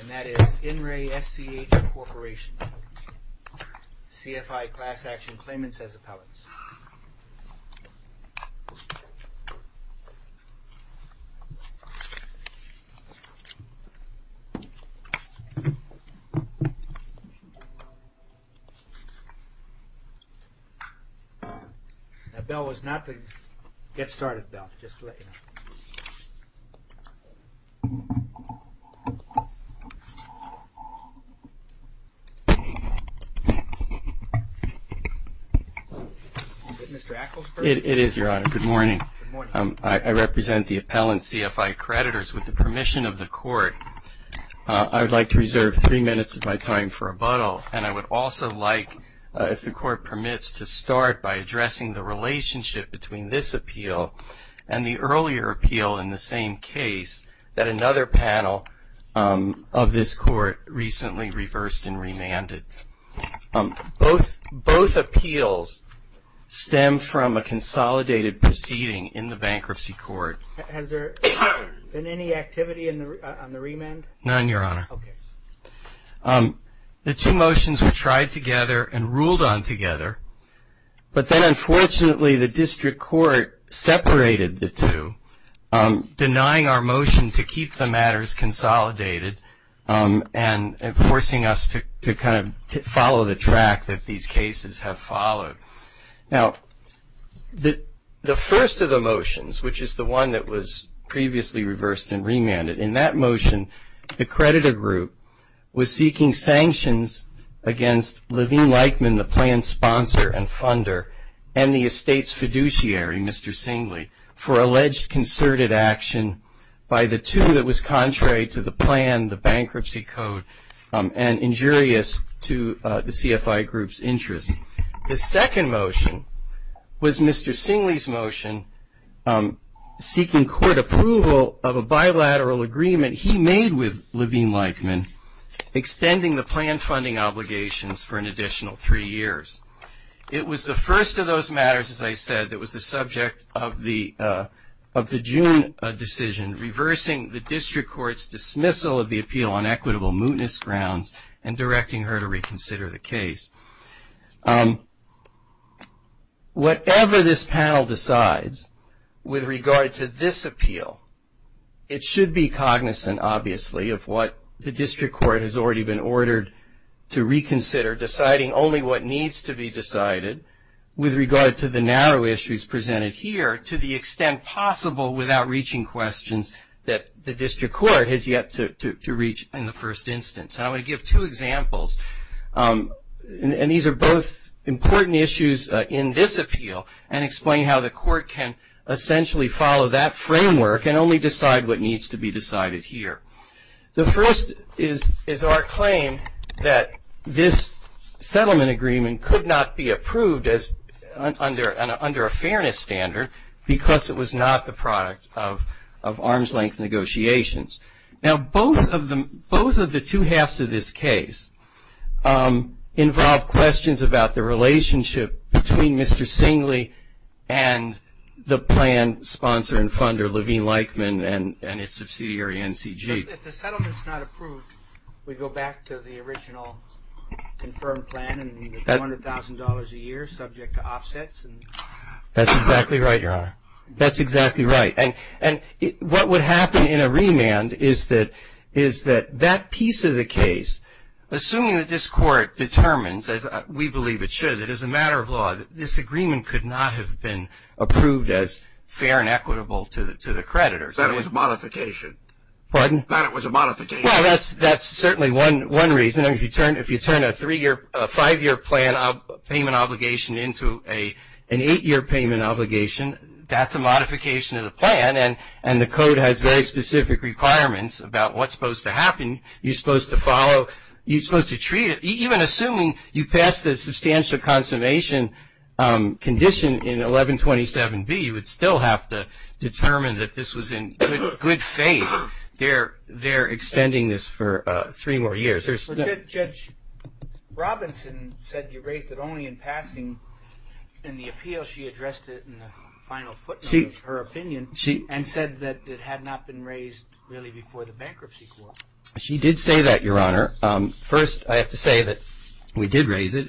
And that is In Re SCH Corporation, CFI Class Action Claimants as Appellants. The bell was not the Get Started bell, just to let you know. Is it Mr. Acklesburg? It is, Your Honor. Good morning, Mr. Acklesburg. I represent the Appellant CFI Creditors with the permission of the Court. I would like to reserve three minutes of my time for rebuttal, and I would also like, if the Court permits, to start by addressing the relationship between this appeal and the earlier appeal in the same case that another panel of this Court recently reversed and remanded. Both appeals stem from a consolidated proceeding in the Bankruptcy Court. Has there been any activity on the remand? None, Your Honor. Okay. The two motions were tried together and ruled on together, but then unfortunately the District Court separated the two, denying our motion to keep the matters consolidated and forcing us to kind of follow the track that these cases have followed. Now, the first of the motions, which is the one that was previously reversed and remanded, in that motion the creditor group was seeking sanctions against Levine Lightman, the plan sponsor and funder, and the estate's fiduciary, Mr. Singley, for alleged concerted action by the two that was contrary to the plan, the bankruptcy code, and injurious to the CFI group's interest. The second motion was Mr. Singley's motion seeking court approval of a bilateral agreement he made with Levine Lightman extending the plan funding obligations for an additional three years. It was the first of those matters, as I said, that was the subject of the June decision, reversing the District Court's dismissal of the appeal on equitable mootness grounds and directing her to reconsider the case. Whatever this panel decides with regard to this appeal, it should be cognizant obviously of what the District Court has already been ordered to reconsider, deciding only what needs to be decided with regard to the narrow issues presented here to the extent possible without reaching questions that the District Court has yet to reach in the first instance. And I'm going to give two examples, and these are both important issues in this appeal, and explain how the court can essentially follow that framework and only decide what needs to be decided here. The first is our claim that this settlement agreement could not be approved under a fairness standard because it was not the product of arm's-length negotiations. Now, both of the two halves of this case involve questions about the relationship between Mr. Singley and the plan sponsor and funder, Levine Lightman, and its subsidiary, NCG. If the settlement's not approved, we go back to the original confirmed plan and $200,000 a year subject to offsets. That's exactly right, Your Honor. That's exactly right. And what would happen in a remand is that that piece of the case, assuming that this court determines, as we believe it should, it is a matter of law, that this agreement could not have been approved as fair and equitable to the creditors. That was a modification. Pardon? That was a modification. Well, that's certainly one reason. If you turn a five-year plan payment obligation into an eight-year payment obligation, that's a modification of the plan, and the code has very specific requirements about what's supposed to happen. You're supposed to follow, you're supposed to treat it. Even assuming you pass the substantial consummation condition in 1127B, you would still have to determine that this was in good faith. They're extending this for three more years. Judge Robinson said you raised it only in passing in the appeal. She addressed it in the final footnote of her opinion and said that it had not been raised really before the bankruptcy court. She did say that, Your Honor. First, I have to say that we did raise it.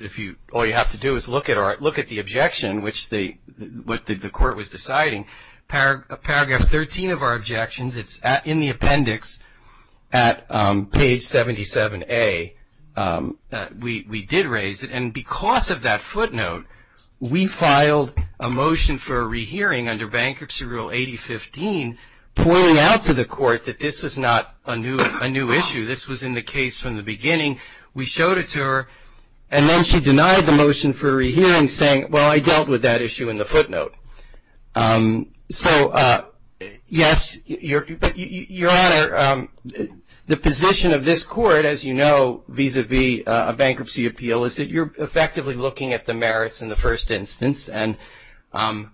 All you have to do is look at the objection, what the court was deciding. Paragraph 13 of our objections, it's in the appendix at page 77A. We did raise it, and because of that footnote, we filed a motion for a rehearing under Bankruptcy Rule 8015, pointing out to the court that this is not a new issue. This was in the case from the beginning. We showed it to her, and then she denied the motion for a rehearing, saying, well, I dealt with that issue in the footnote. So, yes, Your Honor, the position of this court, as you know, vis-à-vis a bankruptcy appeal is that you're effectively looking at the merits in the first instance, and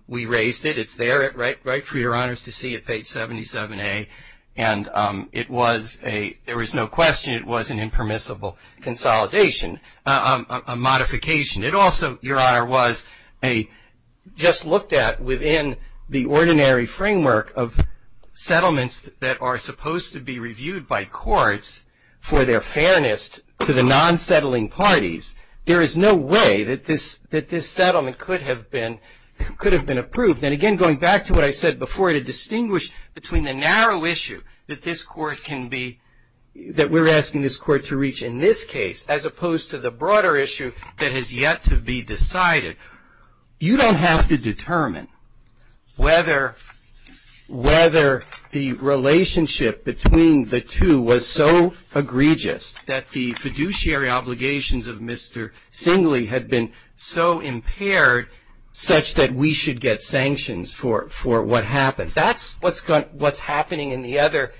we raised it. It's there, right for Your Honors to see at page 77A, and it was a, there was no question, it was an impermissible consolidation, a modification. It also, Your Honor, was a, just looked at within the ordinary framework of settlements that are supposed to be reviewed by courts for their fairness to the non-settling parties. There is no way that this settlement could have been approved. And again, going back to what I said before, to distinguish between the narrow issue that this court can be, that we're asking this court to reach in this case, as opposed to the broader issue that has yet to be decided, you don't have to determine whether the relationship between the two was so egregious that the fiduciary obligations of Mr. Singley had been so impaired such that we should get sanctions for what happened. That's what's happening in the other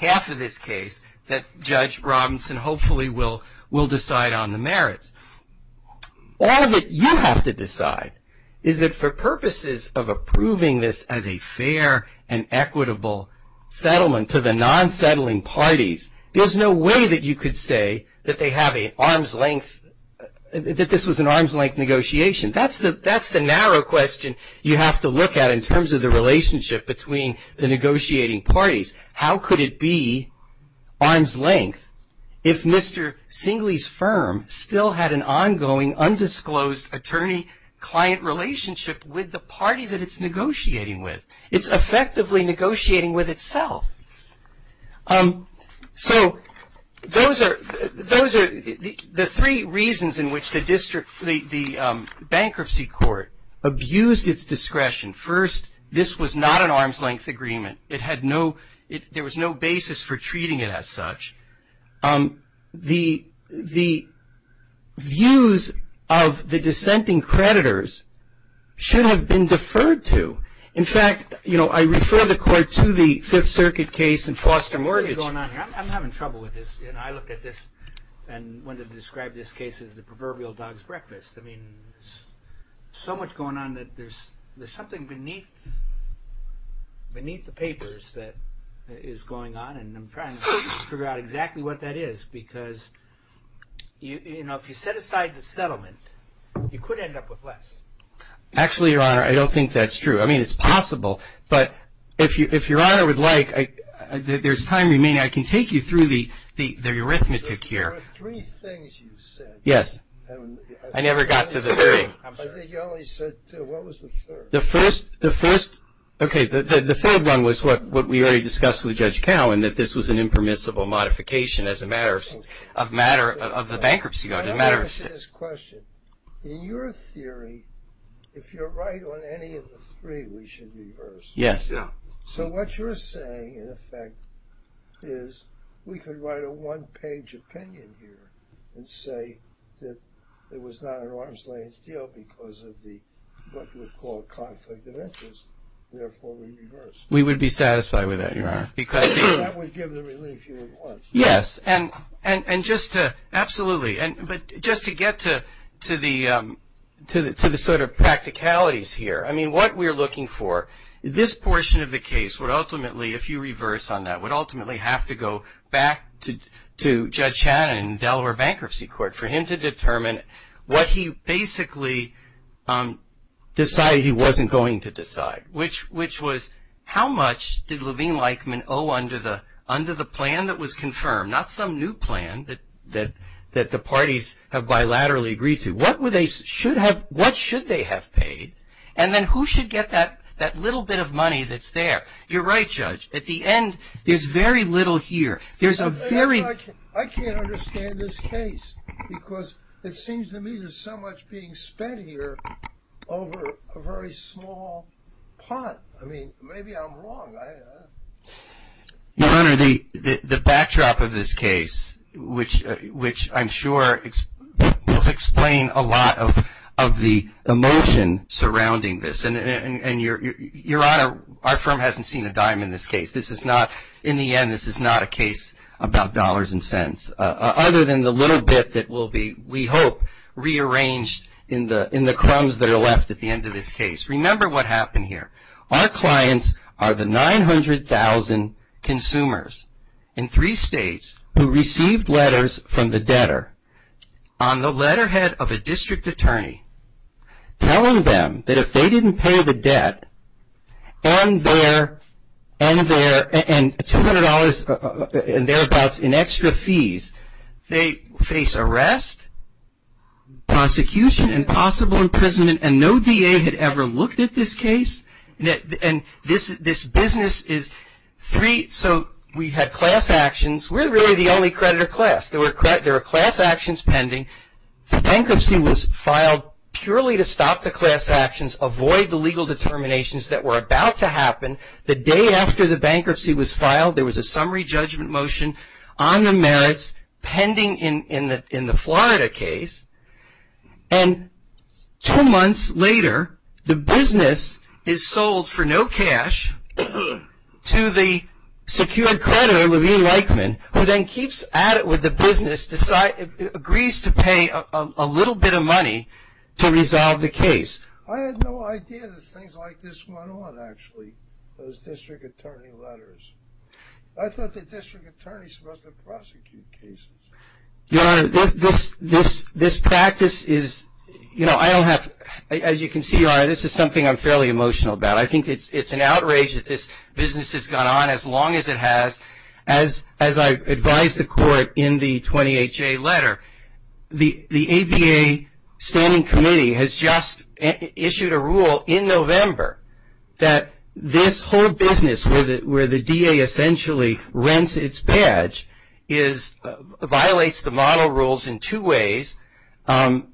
half of this case that Judge Robinson hopefully will decide on the merits. All that you have to decide is that for purposes of approving this as a fair and equitable settlement to the non-settling parties, there's no way that you could say that they have an arm's length, that this was an arm's length negotiation. That's the narrow question you have to look at in terms of the relationship between the negotiating parties. How could it be arm's length if Mr. Singley's firm still had an ongoing undisclosed attorney-client relationship with the party that it's negotiating with? It's effectively negotiating with itself. So those are the three reasons in which the bankruptcy court abused its discretion. First, this was not an arm's length agreement. There was no basis for treating it as such. The views of the dissenting creditors should have been deferred to. In fact, I refer the court to the Fifth Circuit case in foster mortgage. I'm having trouble with this. I looked at this and wanted to describe this case as the proverbial dog's breakfast. There's so much going on that there's something beneath the papers that is going on, and I'm trying to figure out exactly what that is because if you set aside the settlement, you could end up with less. Actually, Your Honor, I don't think that's true. I mean, it's possible, but if Your Honor would like, there's time remaining. I can take you through the arithmetic here. There are three things you said. Yes. I never got to the theory. I think you only said two. What was the third? The first, okay, the third one was what we already discussed with Judge Cowen, that this was an impermissible modification as a matter of the bankruptcy. Let me ask you this question. In your theory, if you're right on any of the three, we should reverse. Yes. So what you're saying, in effect, is we could write a one-page opinion here and say that it was not an arm's-length deal because of the, what you would call, conflict of interest. Therefore, we reverse. We would be satisfied with that, Your Honor. That would give the relief you want. Yes, and just to – absolutely. But just to get to the sort of practicalities here, I mean, what we're looking for, this portion of the case would ultimately, if you reverse on that, would ultimately have to go back to Judge Shannon in Delaware Bankruptcy Court for him to determine what he basically decided he wasn't going to decide, which was how much did Levine-Leichman owe under the plan that was confirmed, not some new plan that the parties have bilaterally agreed to. What should they have paid? And then who should get that little bit of money that's there? You're right, Judge. At the end, there's very little here. There's a very – I can't understand this case because it seems to me there's so much being spent here over a very small pot. I mean, maybe I'm wrong. Your Honor, the backdrop of this case, which I'm sure will explain a lot of the emotion surrounding this, Your Honor, our firm hasn't seen a dime in this case. In the end, this is not a case about dollars and cents, other than the little bit that will be, we hope, rearranged in the crumbs that are left at the end of this case. Remember what happened here. Our clients are the 900,000 consumers in three states who received letters from the debtor on the letterhead of a district attorney telling them that if they didn't pay the debt and $200 and thereabouts in extra fees, they face arrest, prosecution, and possible imprisonment, and no DA had ever looked at this case. And this business is three – so we had class actions. We're really the only creditor class. There were class actions pending. The bankruptcy was filed purely to stop the class actions, avoid the legal determinations that were about to happen. The day after the bankruptcy was filed, there was a summary judgment motion on the merits pending in the Florida case. And two months later, the business is sold for no cash to the secured creditor, who then keeps at it with the business, agrees to pay a little bit of money to resolve the case. I had no idea that things like this went on, actually, those district attorney letters. I thought the district attorney was supposed to prosecute cases. Your Honor, this practice is – you know, I don't have – as you can see, Your Honor, this is something I'm fairly emotional about. I think it's an outrage that this business has gone on as long as it has. As I advised the court in the 20HA letter, the ABA standing committee has just issued a rule in November that this whole business, where the DA essentially rents its badge, violates the model rules in two ways. And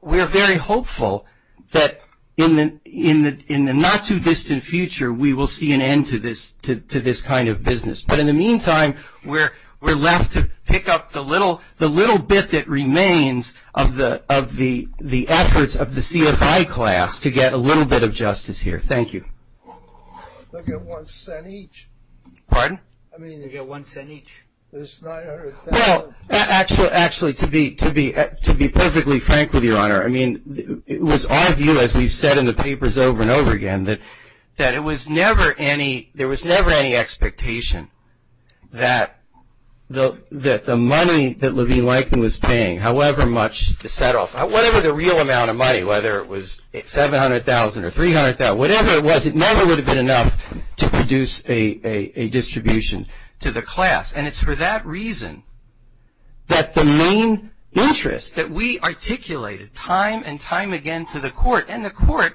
we're very hopeful that in the not-too-distant future, we will see an end to this kind of business. But in the meantime, we're left to pick up the little bit that remains of the efforts of the CFI class to get a little bit of justice here. Thank you. They'll get one cent each. Pardon? They'll get one cent each. It's $900,000. Well, actually, to be perfectly frank with you, Your Honor, I mean, it was our view, as we've said in the papers over and over again, that it was never any – there was never any expectation that the money that Levine-Lytton was paying, however much the set-off, whatever the real amount of money, whether it was $700,000 or $300,000, whatever it was, it never would have been enough to produce a distribution to the class. And it's for that reason that the main interest that we articulated time and time again to the court, and the court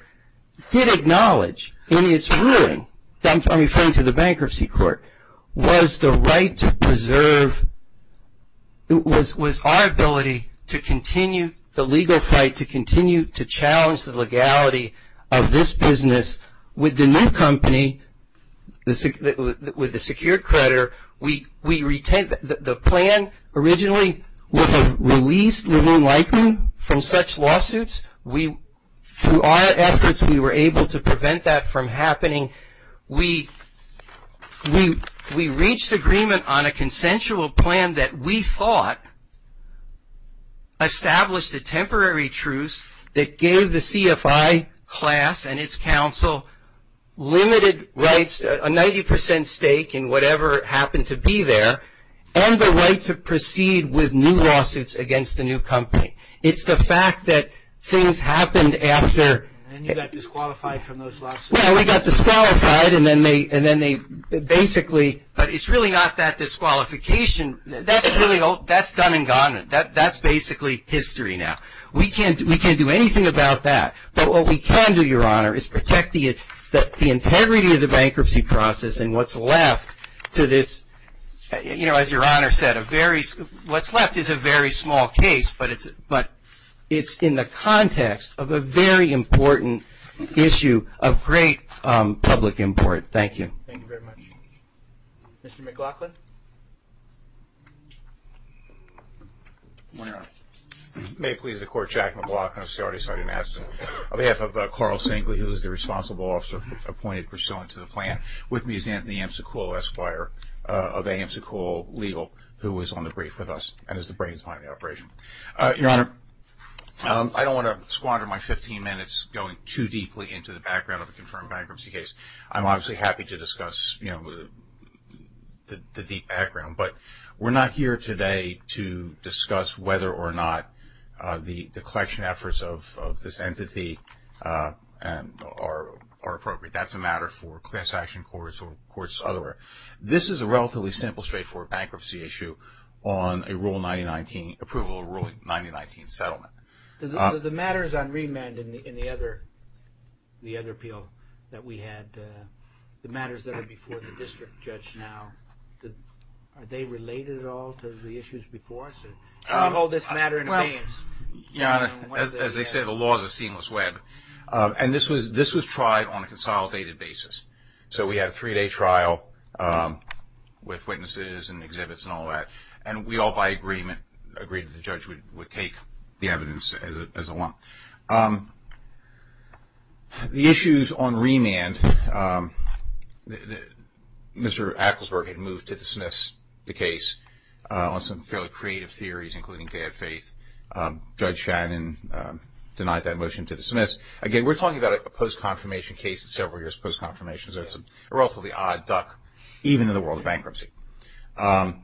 did acknowledge in its ruling, I'm referring to the bankruptcy court, was the right to preserve – was our ability to continue the legal fight, to continue to challenge the legality of this business with the new company, with the secured creditor. The plan originally would have released Levine-Lytton from such lawsuits. Through our efforts, we were able to prevent that from happening. We reached agreement on a consensual plan that we thought established a temporary truce that gave the CFI class and its counsel limited rights, a 90% stake in whatever happened to be there, and the right to proceed with new lawsuits against the new company. It's the fact that things happened after – And you got disqualified from those lawsuits. Well, we got disqualified, and then they basically – it's really not that disqualification. That's done and gone. That's basically history now. We can't do anything about that, but what we can do, Your Honor, is protect the integrity of the bankruptcy process and what's left to this – as Your Honor said, what's left is a very small case, but it's in the context of a very important issue of great public import. Thank you. Thank you very much. Mr. McLaughlin? Good morning, Your Honor. May it please the Court, Jack McLaughlin of C.R.A.T.S. I didn't ask him. On behalf of Carl Sengly, who is the responsible officer appointed pursuant to the plan, with me is Anthony Amsakul, Esquire of AMSAKUL Legal, who is on the brief with us and is the brains behind the operation. Your Honor, I don't want to squander my 15 minutes going too deeply into the background of a confirmed bankruptcy case. I'm obviously happy to discuss the background, but we're not here today to discuss whether or not the collection efforts of this entity are appropriate. That's a matter for class action courts or courts otherwise. This is a relatively simple, straightforward bankruptcy issue on a Rule 9019 – approval of Rule 9019 settlement. The matters on remand in the other appeal that we had, the matters that are before the district judge now, are they related at all to the issues before us? Can you hold this matter in abeyance? Your Honor, as I said, the law is a seamless web, and this was tried on a consolidated basis. So we had a three-day trial with witnesses and exhibits and all that, and we all by agreement agreed that the judge would take the evidence as a law. The issues on remand, Mr. Acklesberg had moved to dismiss the case on some fairly creative theories, including bad faith. Judge Shannon denied that motion to dismiss. Again, we're talking about a post-confirmation case, several years post-confirmation, so it's a relatively odd duck even in the world of bankruptcy. The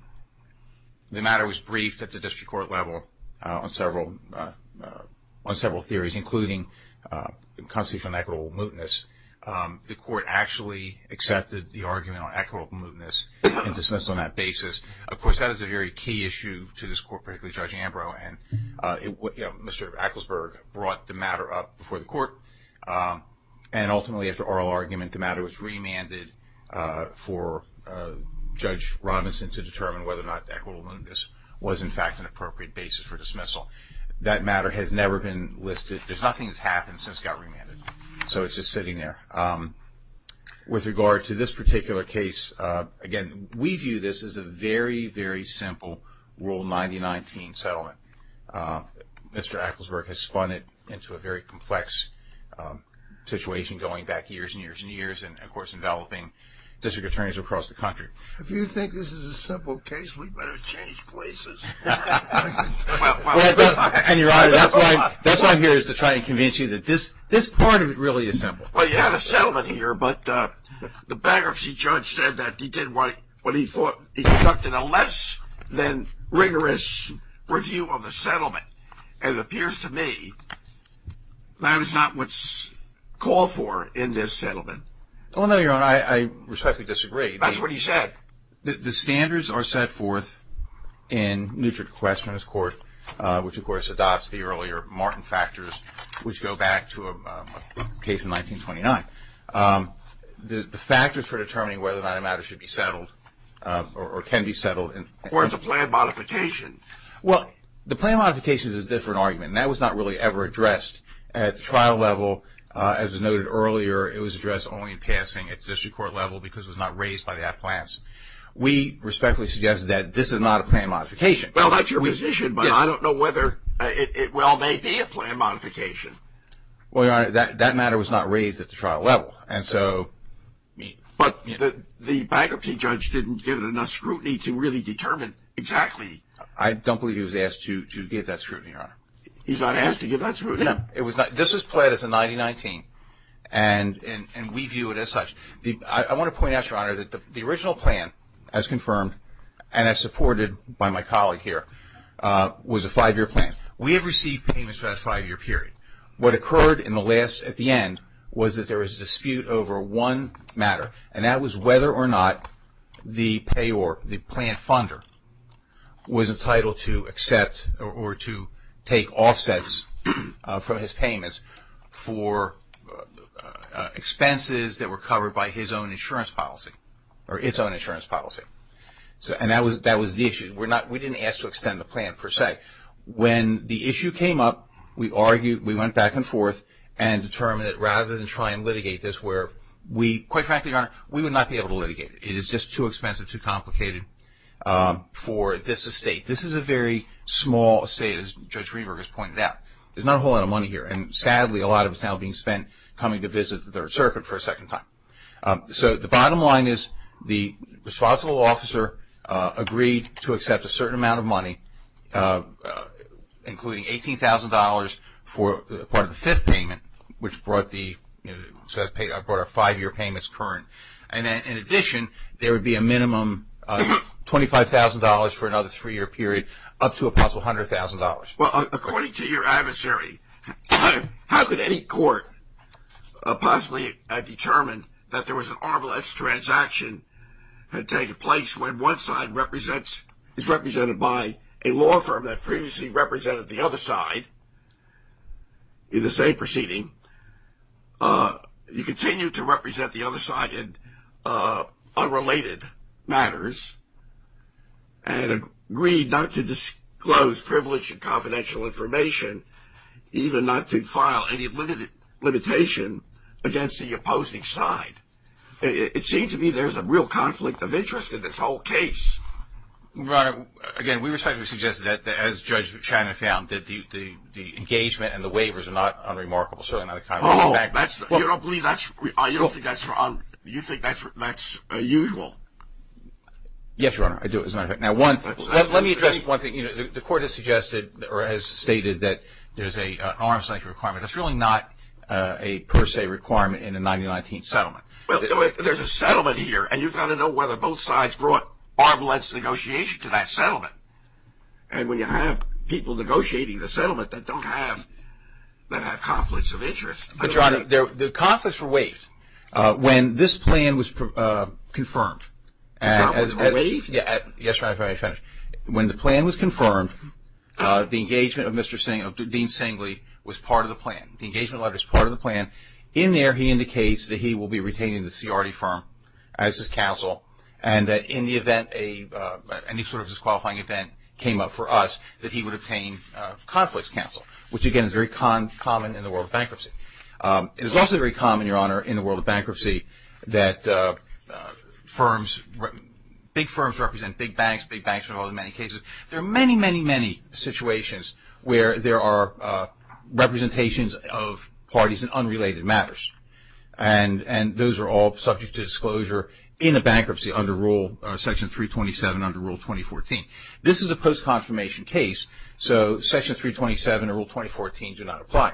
matter was briefed at the district court level on several theories, including constitutional and equitable mootness. The court actually accepted the argument on equitable mootness and dismissed on that basis. Of course, that is a very key issue to this court, particularly Judge Ambrose, and Mr. Acklesberg brought the matter up before the court, and ultimately after oral argument the matter was remanded for Judge Robinson to determine whether or not equitable mootness was, in fact, an appropriate basis for dismissal. That matter has never been listed. There's nothing that's happened since it got remanded, so it's just sitting there. With regard to this particular case, again, we view this as a very, very simple Rule 9019 settlement. Mr. Acklesberg has spun it into a very complex situation going back years and years and years, and, of course, enveloping district attorneys across the country. If you think this is a simple case, we'd better change places. And, Your Honor, that's why I'm here is to try and convince you that this part of it really is simple. Well, you have a settlement here, but the bankruptcy judge said that he did what he thought he conducted a less than rigorous review of the settlement, and it appears to me that is not what's called for in this settlement. Well, no, Your Honor, I respectfully disagree. That's what he said. The standards are set forth in Nutrient Questions Court, which, of course, adopts the earlier Martin factors, which go back to a case in 1929. The factors for determining whether or not a matter should be settled or can be settled. Or it's a plan modification. Well, the plan modification is a different argument. That was not really ever addressed at the trial level. As was noted earlier, it was addressed only in passing at the district court level because it was not raised by the ad plants. We respectfully suggest that this is not a plan modification. Well, that's your position, but I don't know whether it well may be a plan modification. Well, Your Honor, that matter was not raised at the trial level, and so. But the bankruptcy judge didn't give it enough scrutiny to really determine exactly. I don't believe he was asked to give that scrutiny, Your Honor. He's not asked to give that scrutiny. This was played as a 90-19, and we view it as such. I want to point out, Your Honor, that the original plan, as confirmed and as supported by my colleague here, was a five-year plan. We have received payments for that five-year period. What occurred at the end was that there was a dispute over one matter, and that was whether or not the plan funder was entitled to accept or to take offsets from his payments for expenses that were covered by his own insurance policy or its own insurance policy. And that was the issue. We didn't ask to extend the plan, per se. When the issue came up, we argued, we went back and forth, and determined that rather than try and litigate this where we, quite frankly, Your Honor, we would not be able to litigate it. It is just too expensive, too complicated for this estate. This is a very small estate, as Judge Reber has pointed out. There's not a whole lot of money here, and sadly, a lot of it is now being spent coming to visit the Third Circuit for a second time. So the bottom line is the responsible officer agreed to accept a certain amount of money, including $18,000 for part of the fifth payment, which brought our five-year payments current. And in addition, there would be a minimum $25,000 for another three-year period, up to a possible $100,000. Well, according to your adversary, how could any court possibly have determined that there was an ARVILX transaction that had taken place when one side is represented by a law firm that previously represented the other side in the same proceeding? You continue to represent the other side in unrelated matters and agreed not to disclose privileged and confidential information, even not to file any limitation against the opposing side. It seems to me there's a real conflict of interest in this whole case. Right. Again, we respectfully suggest that, as Judge Shannon found, that the engagement and the waivers are not unremarkable. You don't think that's wrong? You think that's usual? Yes, Your Honor, I do, as a matter of fact. Let me address one thing. The court has stated that there's an ARVILX requirement. That's really not a per se requirement in a 1919 settlement. Well, there's a settlement here, and you've got to know whether both sides brought ARVILX negotiation to that settlement. And when you have people negotiating the settlement that don't have conflicts of interest. But, Your Honor, the conflicts were waived when this plan was confirmed. The conflicts were waived? Yes, Your Honor, before I finish. When the plan was confirmed, the engagement of Dean Singley was part of the plan. The engagement letter is part of the plan. In there he indicates that he will be retaining the CRD firm as his counsel and that in the event any sort of disqualifying event came up for us, that he would obtain conflicts counsel, which, again, is very common in the world of bankruptcy. It is also very common, Your Honor, in the world of bankruptcy, that big firms represent big banks, big banks are involved in many cases. There are many, many, many situations where there are representations of parties in unrelated matters. And those are all subject to disclosure in a bankruptcy under Rule Section 327 under Rule 2014. This is a post-confirmation case, so Section 327 and Rule 2014 do not apply.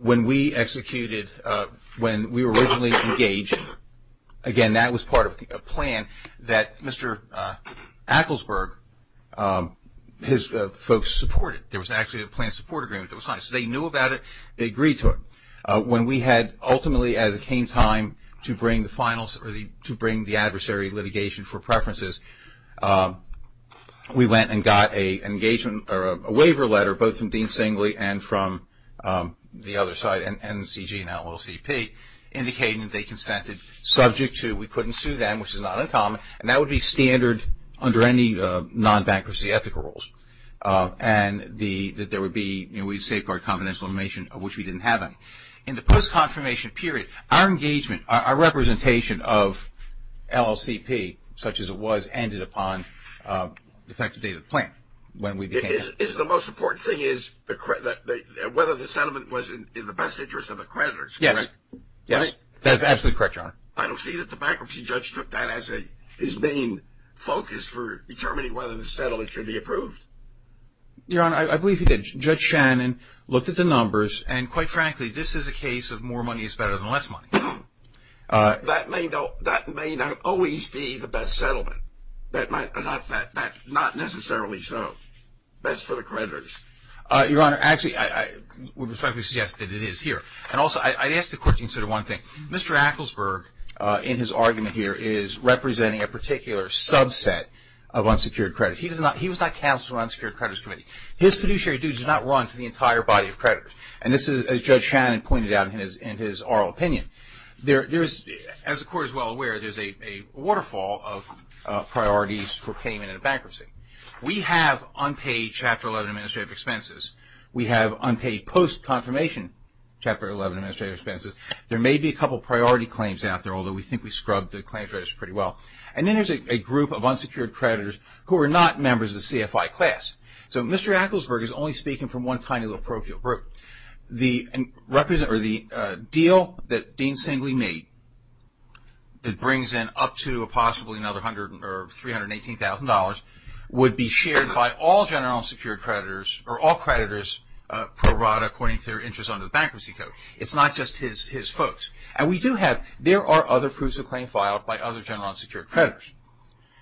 When we executed, when we were originally engaged, again, that was part of a plan that Mr. Acklesberg, his folks supported. There was actually a plan support agreement that was signed. So they knew about it, they agreed to it. When we had ultimately, as it came time to bring the adversary litigation for preferences, we went and got an engagement or a waiver letter both from Dean Singley and from the other side, NCG and LLCP, indicating that they consented subject to we couldn't sue them, which is not uncommon, and that would be standard under any non-bankruptcy ethical rules. And that there would be, you know, we'd safeguard confidential information, of which we didn't have any. In the post-confirmation period, our engagement, our representation of LLCP, such as it was, ended upon effective date of the plan when we became. It's the most important thing is whether the settlement was in the best interest of the creditors, correct? That's absolutely correct, Your Honor. I don't see that the bankruptcy judge took that as his main focus for determining whether the settlement should be approved. Your Honor, I believe he did. Judge Shannon looked at the numbers, and quite frankly, this is a case of more money is better than less money. That may not always be the best settlement. Not necessarily so. That's for the creditors. Your Honor, actually, I would respectfully suggest that it is here. And also, I'd ask the court to consider one thing. Mr. Acklesberg, in his argument here, is representing a particular subset of unsecured creditors. He was not counsel on unsecured creditors committee. His fiduciary duties do not run to the entire body of creditors. And this is, as Judge Shannon pointed out in his oral opinion, there is, as the court is well aware, there's a waterfall of priorities for payment in a bankruptcy. We have unpaid Chapter 11 administrative expenses. We have unpaid post-confirmation Chapter 11 administrative expenses. There may be a couple of priority claims out there, although we think we scrubbed the claims register pretty well. And then there's a group of unsecured creditors who are not members of the CFI class. So Mr. Acklesberg is only speaking from one tiny little parochial group. The deal that Dean Singley made that brings in up to possibly another $318,000 would be shared by all general unsecured creditors, or all creditors pro rata, according to their interest under the Bankruptcy Code. It's not just his folks. And we do have, there are other proofs of claim filed by other general unsecured creditors.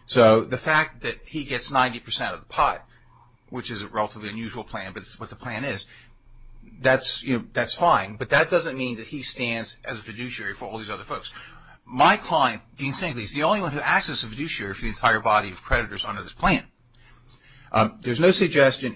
So the fact that he gets 90% of the pot, which is a relatively unusual plan, but it's what the plan is, that's fine, but that doesn't mean that he stands as a fiduciary for all these other folks. My client, Dean Singley, is the only one who acts as a fiduciary for the entire body of creditors under this plan. There's no suggestion,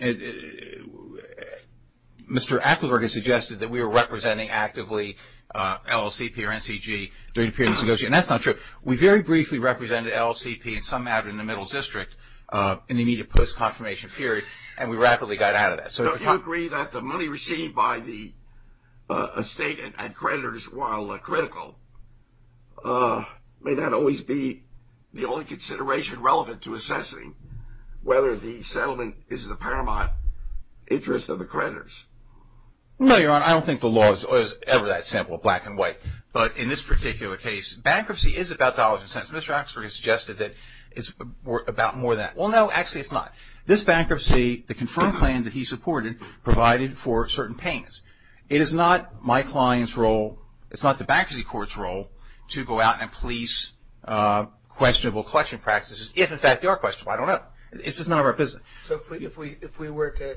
Mr. Acklesberg has suggested that we are representing actively LLCP or NCG during the period of this negotiation, and that's not true. We very briefly represented LLCP in some matter in the middle district in the immediate post-confirmation period, and we rapidly got out of that. So do you agree that the money received by the estate and creditors while critical, may that always be the only consideration relevant to assessing whether the settlement is in the paramount interest of the creditors? No, Your Honor, I don't think the law is ever that simple, black and white. But in this particular case, bankruptcy is about dollars and cents. Mr. Acklesberg has suggested that it's about more than that. Well, no, actually it's not. This bankruptcy, the confirmed plan that he supported provided for certain payments. It is not my client's role, it's not the bankruptcy court's role to go out and police questionable collection practices, if in fact they are questionable. I don't know. It's just none of our business. So if we were to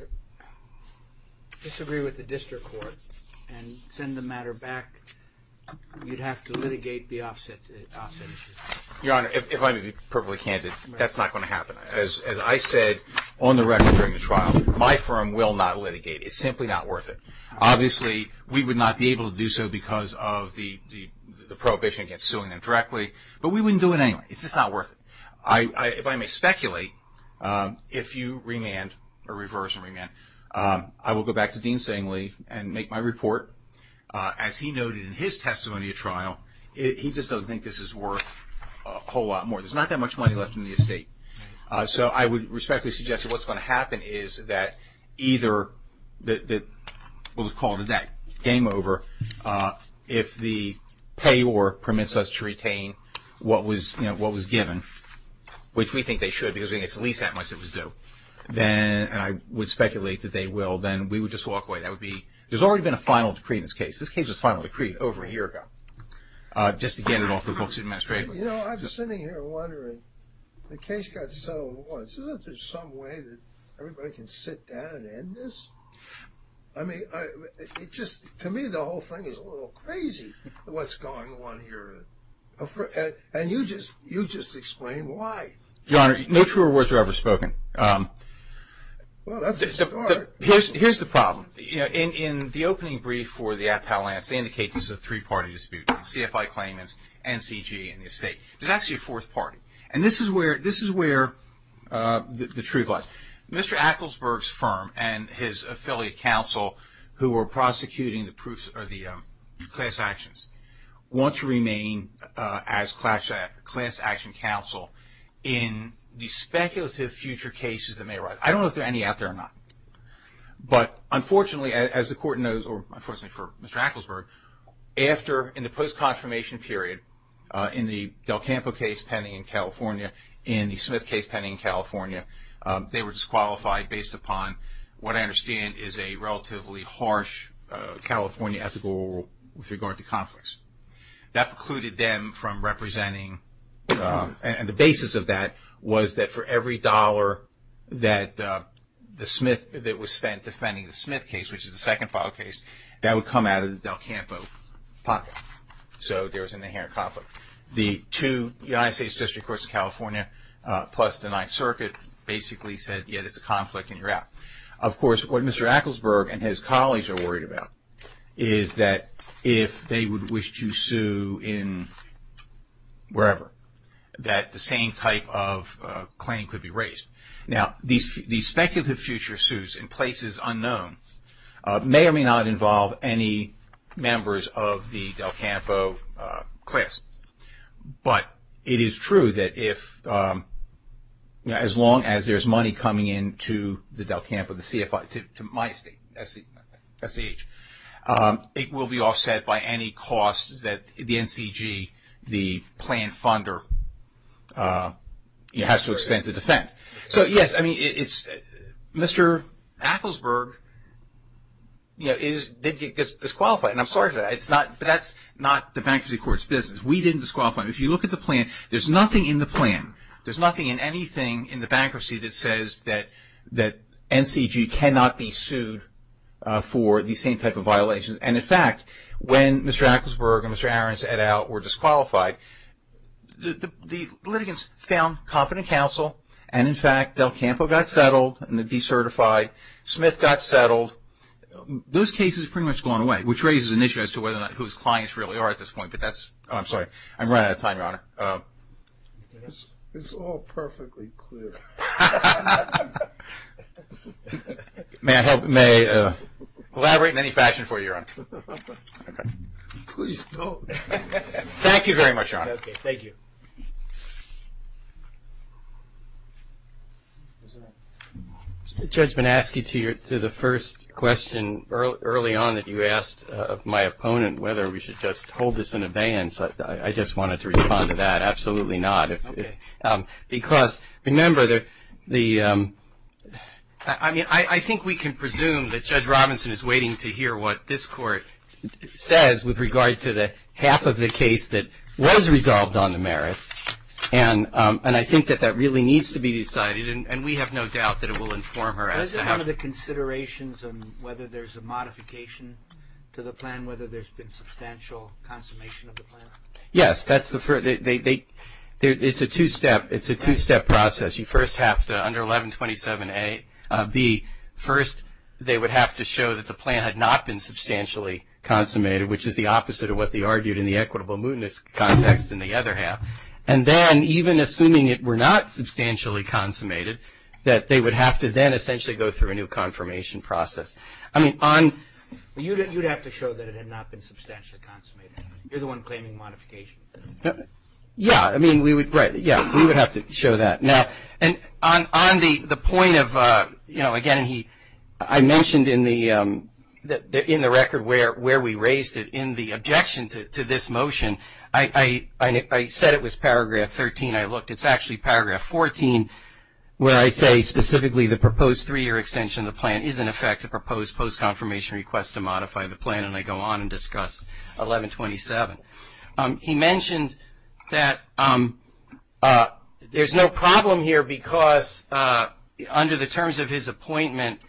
disagree with the district court and send the matter back, you'd have to litigate the offset issue. Your Honor, if I may be perfectly candid, that's not going to happen. As I said on the record during the trial, my firm will not litigate. It's simply not worth it. Obviously, we would not be able to do so because of the prohibition against suing them directly, but we wouldn't do it anyway. It's just not worth it. If I may speculate, if you remand or reverse and remand, I will go back to Dean Sangley and make my report. As he noted in his testimony at trial, he just doesn't think this is worth a whole lot more. There's not that much money left in the estate. So I would respectfully suggest that what's going to happen is that either that, we'll just call it a day, game over. If the payor permits us to retain what was given, which we think they should because it's at least that much that was due, and I would speculate that they will, then we would just walk away. There's already been a final decree in this case. This case was finally decreed over a year ago just to get it off the books administratively. You know, I'm sitting here wondering, the case got settled once. Isn't there some way that everybody can sit down and end this? I mean, to me the whole thing is a little crazy, what's going on here. And you just explained why. Your Honor, no truer words were ever spoken. Well, that's a start. Here's the problem. In the opening brief for the Appellants, they indicate this is a three-party dispute. CFI claimants, NCG, and the estate. There's actually a fourth party. And this is where the truth lies. Mr. Acklesberg's firm and his affiliate counsel who were prosecuting the class actions want to remain as class action counsel in the speculative future cases that may arise. I don't know if there are any out there or not. But unfortunately, as the Court knows, or unfortunately for Mr. Acklesberg, after in the post-confirmation period in the Del Campo case pending in California and the Smith case pending in California, they were disqualified based upon what I understand is a relatively harsh California ethical rule with regard to conflicts. That precluded them from representing. And the basis of that was that for every dollar that was spent defending the Smith case, which is the second file case, that would come out of the Del Campo pocket. So there was an inherent conflict. The two, the United States District Courts of California plus the Ninth Circuit, basically said, yeah, there's a conflict and you're out. Of course, what Mr. Acklesberg and his colleagues are worried about is that if they would wish to sue in wherever, that the same type of claim could be raised. Now, these speculative future suits in places unknown may or may not involve any members of the Del Campo class. But it is true that if, as long as there's money coming into the Del Campo, the CFI, to my estate, SCH, it will be offset by any costs that the NCG, the plan funder, has to expend to defend. So, yes, I mean, it's Mr. Acklesberg, you know, is disqualified, and I'm sorry for that. It's not, that's not the bankruptcy court's business. We didn't disqualify him. If you look at the plan, there's nothing in the plan, there's nothing in anything in the bankruptcy that says that NCG cannot be sued for the same type of violations. And, in fact, when Mr. Acklesberg and Mr. Ahrens et al. were disqualified, the litigants found competent counsel, and, in fact, Del Campo got settled and decertified. Smith got settled. Those cases have pretty much gone away, which raises an issue as to whether or not whose clients really are at this point. But that's, I'm sorry, I'm running out of time, Your Honor. It's all perfectly clear. May I help? May I elaborate in any fashion for you, Your Honor? Please don't. Thank you very much, Your Honor. Okay. Thank you. The judge may ask you to the first question early on that you asked of my opponent, whether we should just hold this in abeyance. I just wanted to respond to that. Absolutely not. Because, remember, I think we can presume that Judge Robinson is waiting to hear what this court says with regard to the half of the case that was resolved on the merits. And I think that that really needs to be decided, and we have no doubt that it will inform her as to how. Was it one of the considerations on whether there's a modification to the plan, whether there's been substantial consummation of the plan? Yes, that's the first. It's a two-step process. You first have to, under 1127A, B, first they would have to show that the plan had not been substantially consummated, which is the opposite of what they argued in the equitable mootness context in the other half. And then, even assuming it were not substantially consummated, that they would have to then essentially go through a new confirmation process. You would have to show that it had not been substantially consummated. You're the one claiming modification. Yeah, I mean, we would have to show that. Now, on the point of, you know, again, I mentioned in the record where we raised it, in the objection to this motion, I said it was Paragraph 13. I looked. It's actually Paragraph 14 where I say, specifically, the proposed three-year extension of the plan is, in effect, a proposed post-confirmation request to modify the plan. And I go on and discuss 1127. He mentioned that there's no problem here because, under the terms of his appointment,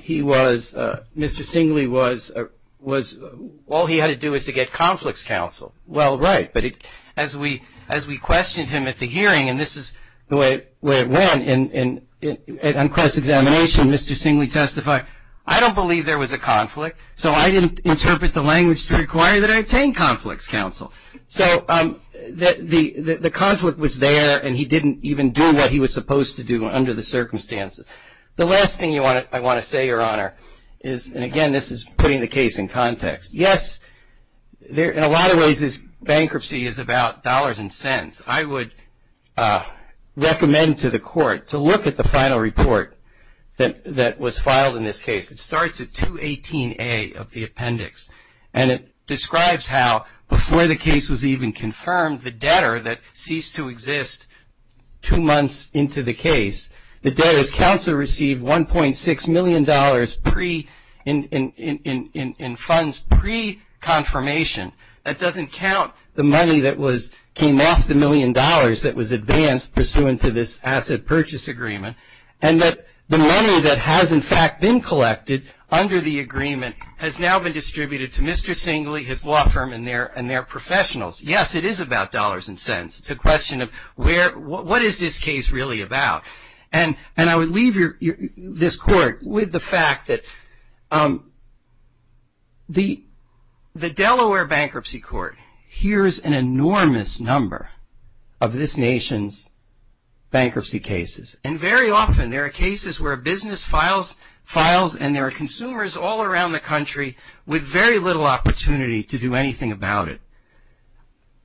he was, Mr. Singley was, all he had to do was to get conflicts counsel. Well, right. But as we questioned him at the hearing, and this is the way it went, and on cross-examination, Mr. Singley testified, I don't believe there was a conflict, so I didn't interpret the language to require that I obtain conflicts counsel. So the conflict was there, and he didn't even do what he was supposed to do under the circumstances. The last thing I want to say, Your Honor, is, and again, this is putting the case in context. Yes, in a lot of ways, this bankruptcy is about dollars and cents. I would recommend to the court to look at the final report that was filed in this case. It starts at 218A of the appendix, and it describes how before the case was even confirmed, the debtor that ceased to exist two months into the case, the debtor's counsel received $1.6 million in funds pre-confirmation. That doesn't count the money that came off the million dollars that was advanced pursuant to this asset purchase agreement, and that the money that has, in fact, been collected under the agreement, has now been distributed to Mr. Singley, his law firm, and their professionals. Yes, it is about dollars and cents. It's a question of what is this case really about? And I would leave this court with the fact that the Delaware Bankruptcy Court hears an enormous number of this nation's bankruptcy cases, and very often there are cases where a business files and there are consumers all around the country with very little opportunity to do anything about it.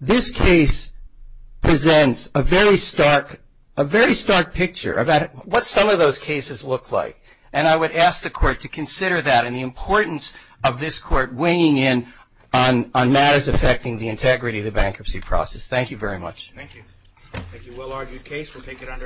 This case presents a very stark picture about what some of those cases look like, and I would ask the court to consider that, and the importance of this court weighing in on matters affecting the integrity of the bankruptcy process. Thank you very much. Thank you. Thank you, Willard. Your case will take it under investigation.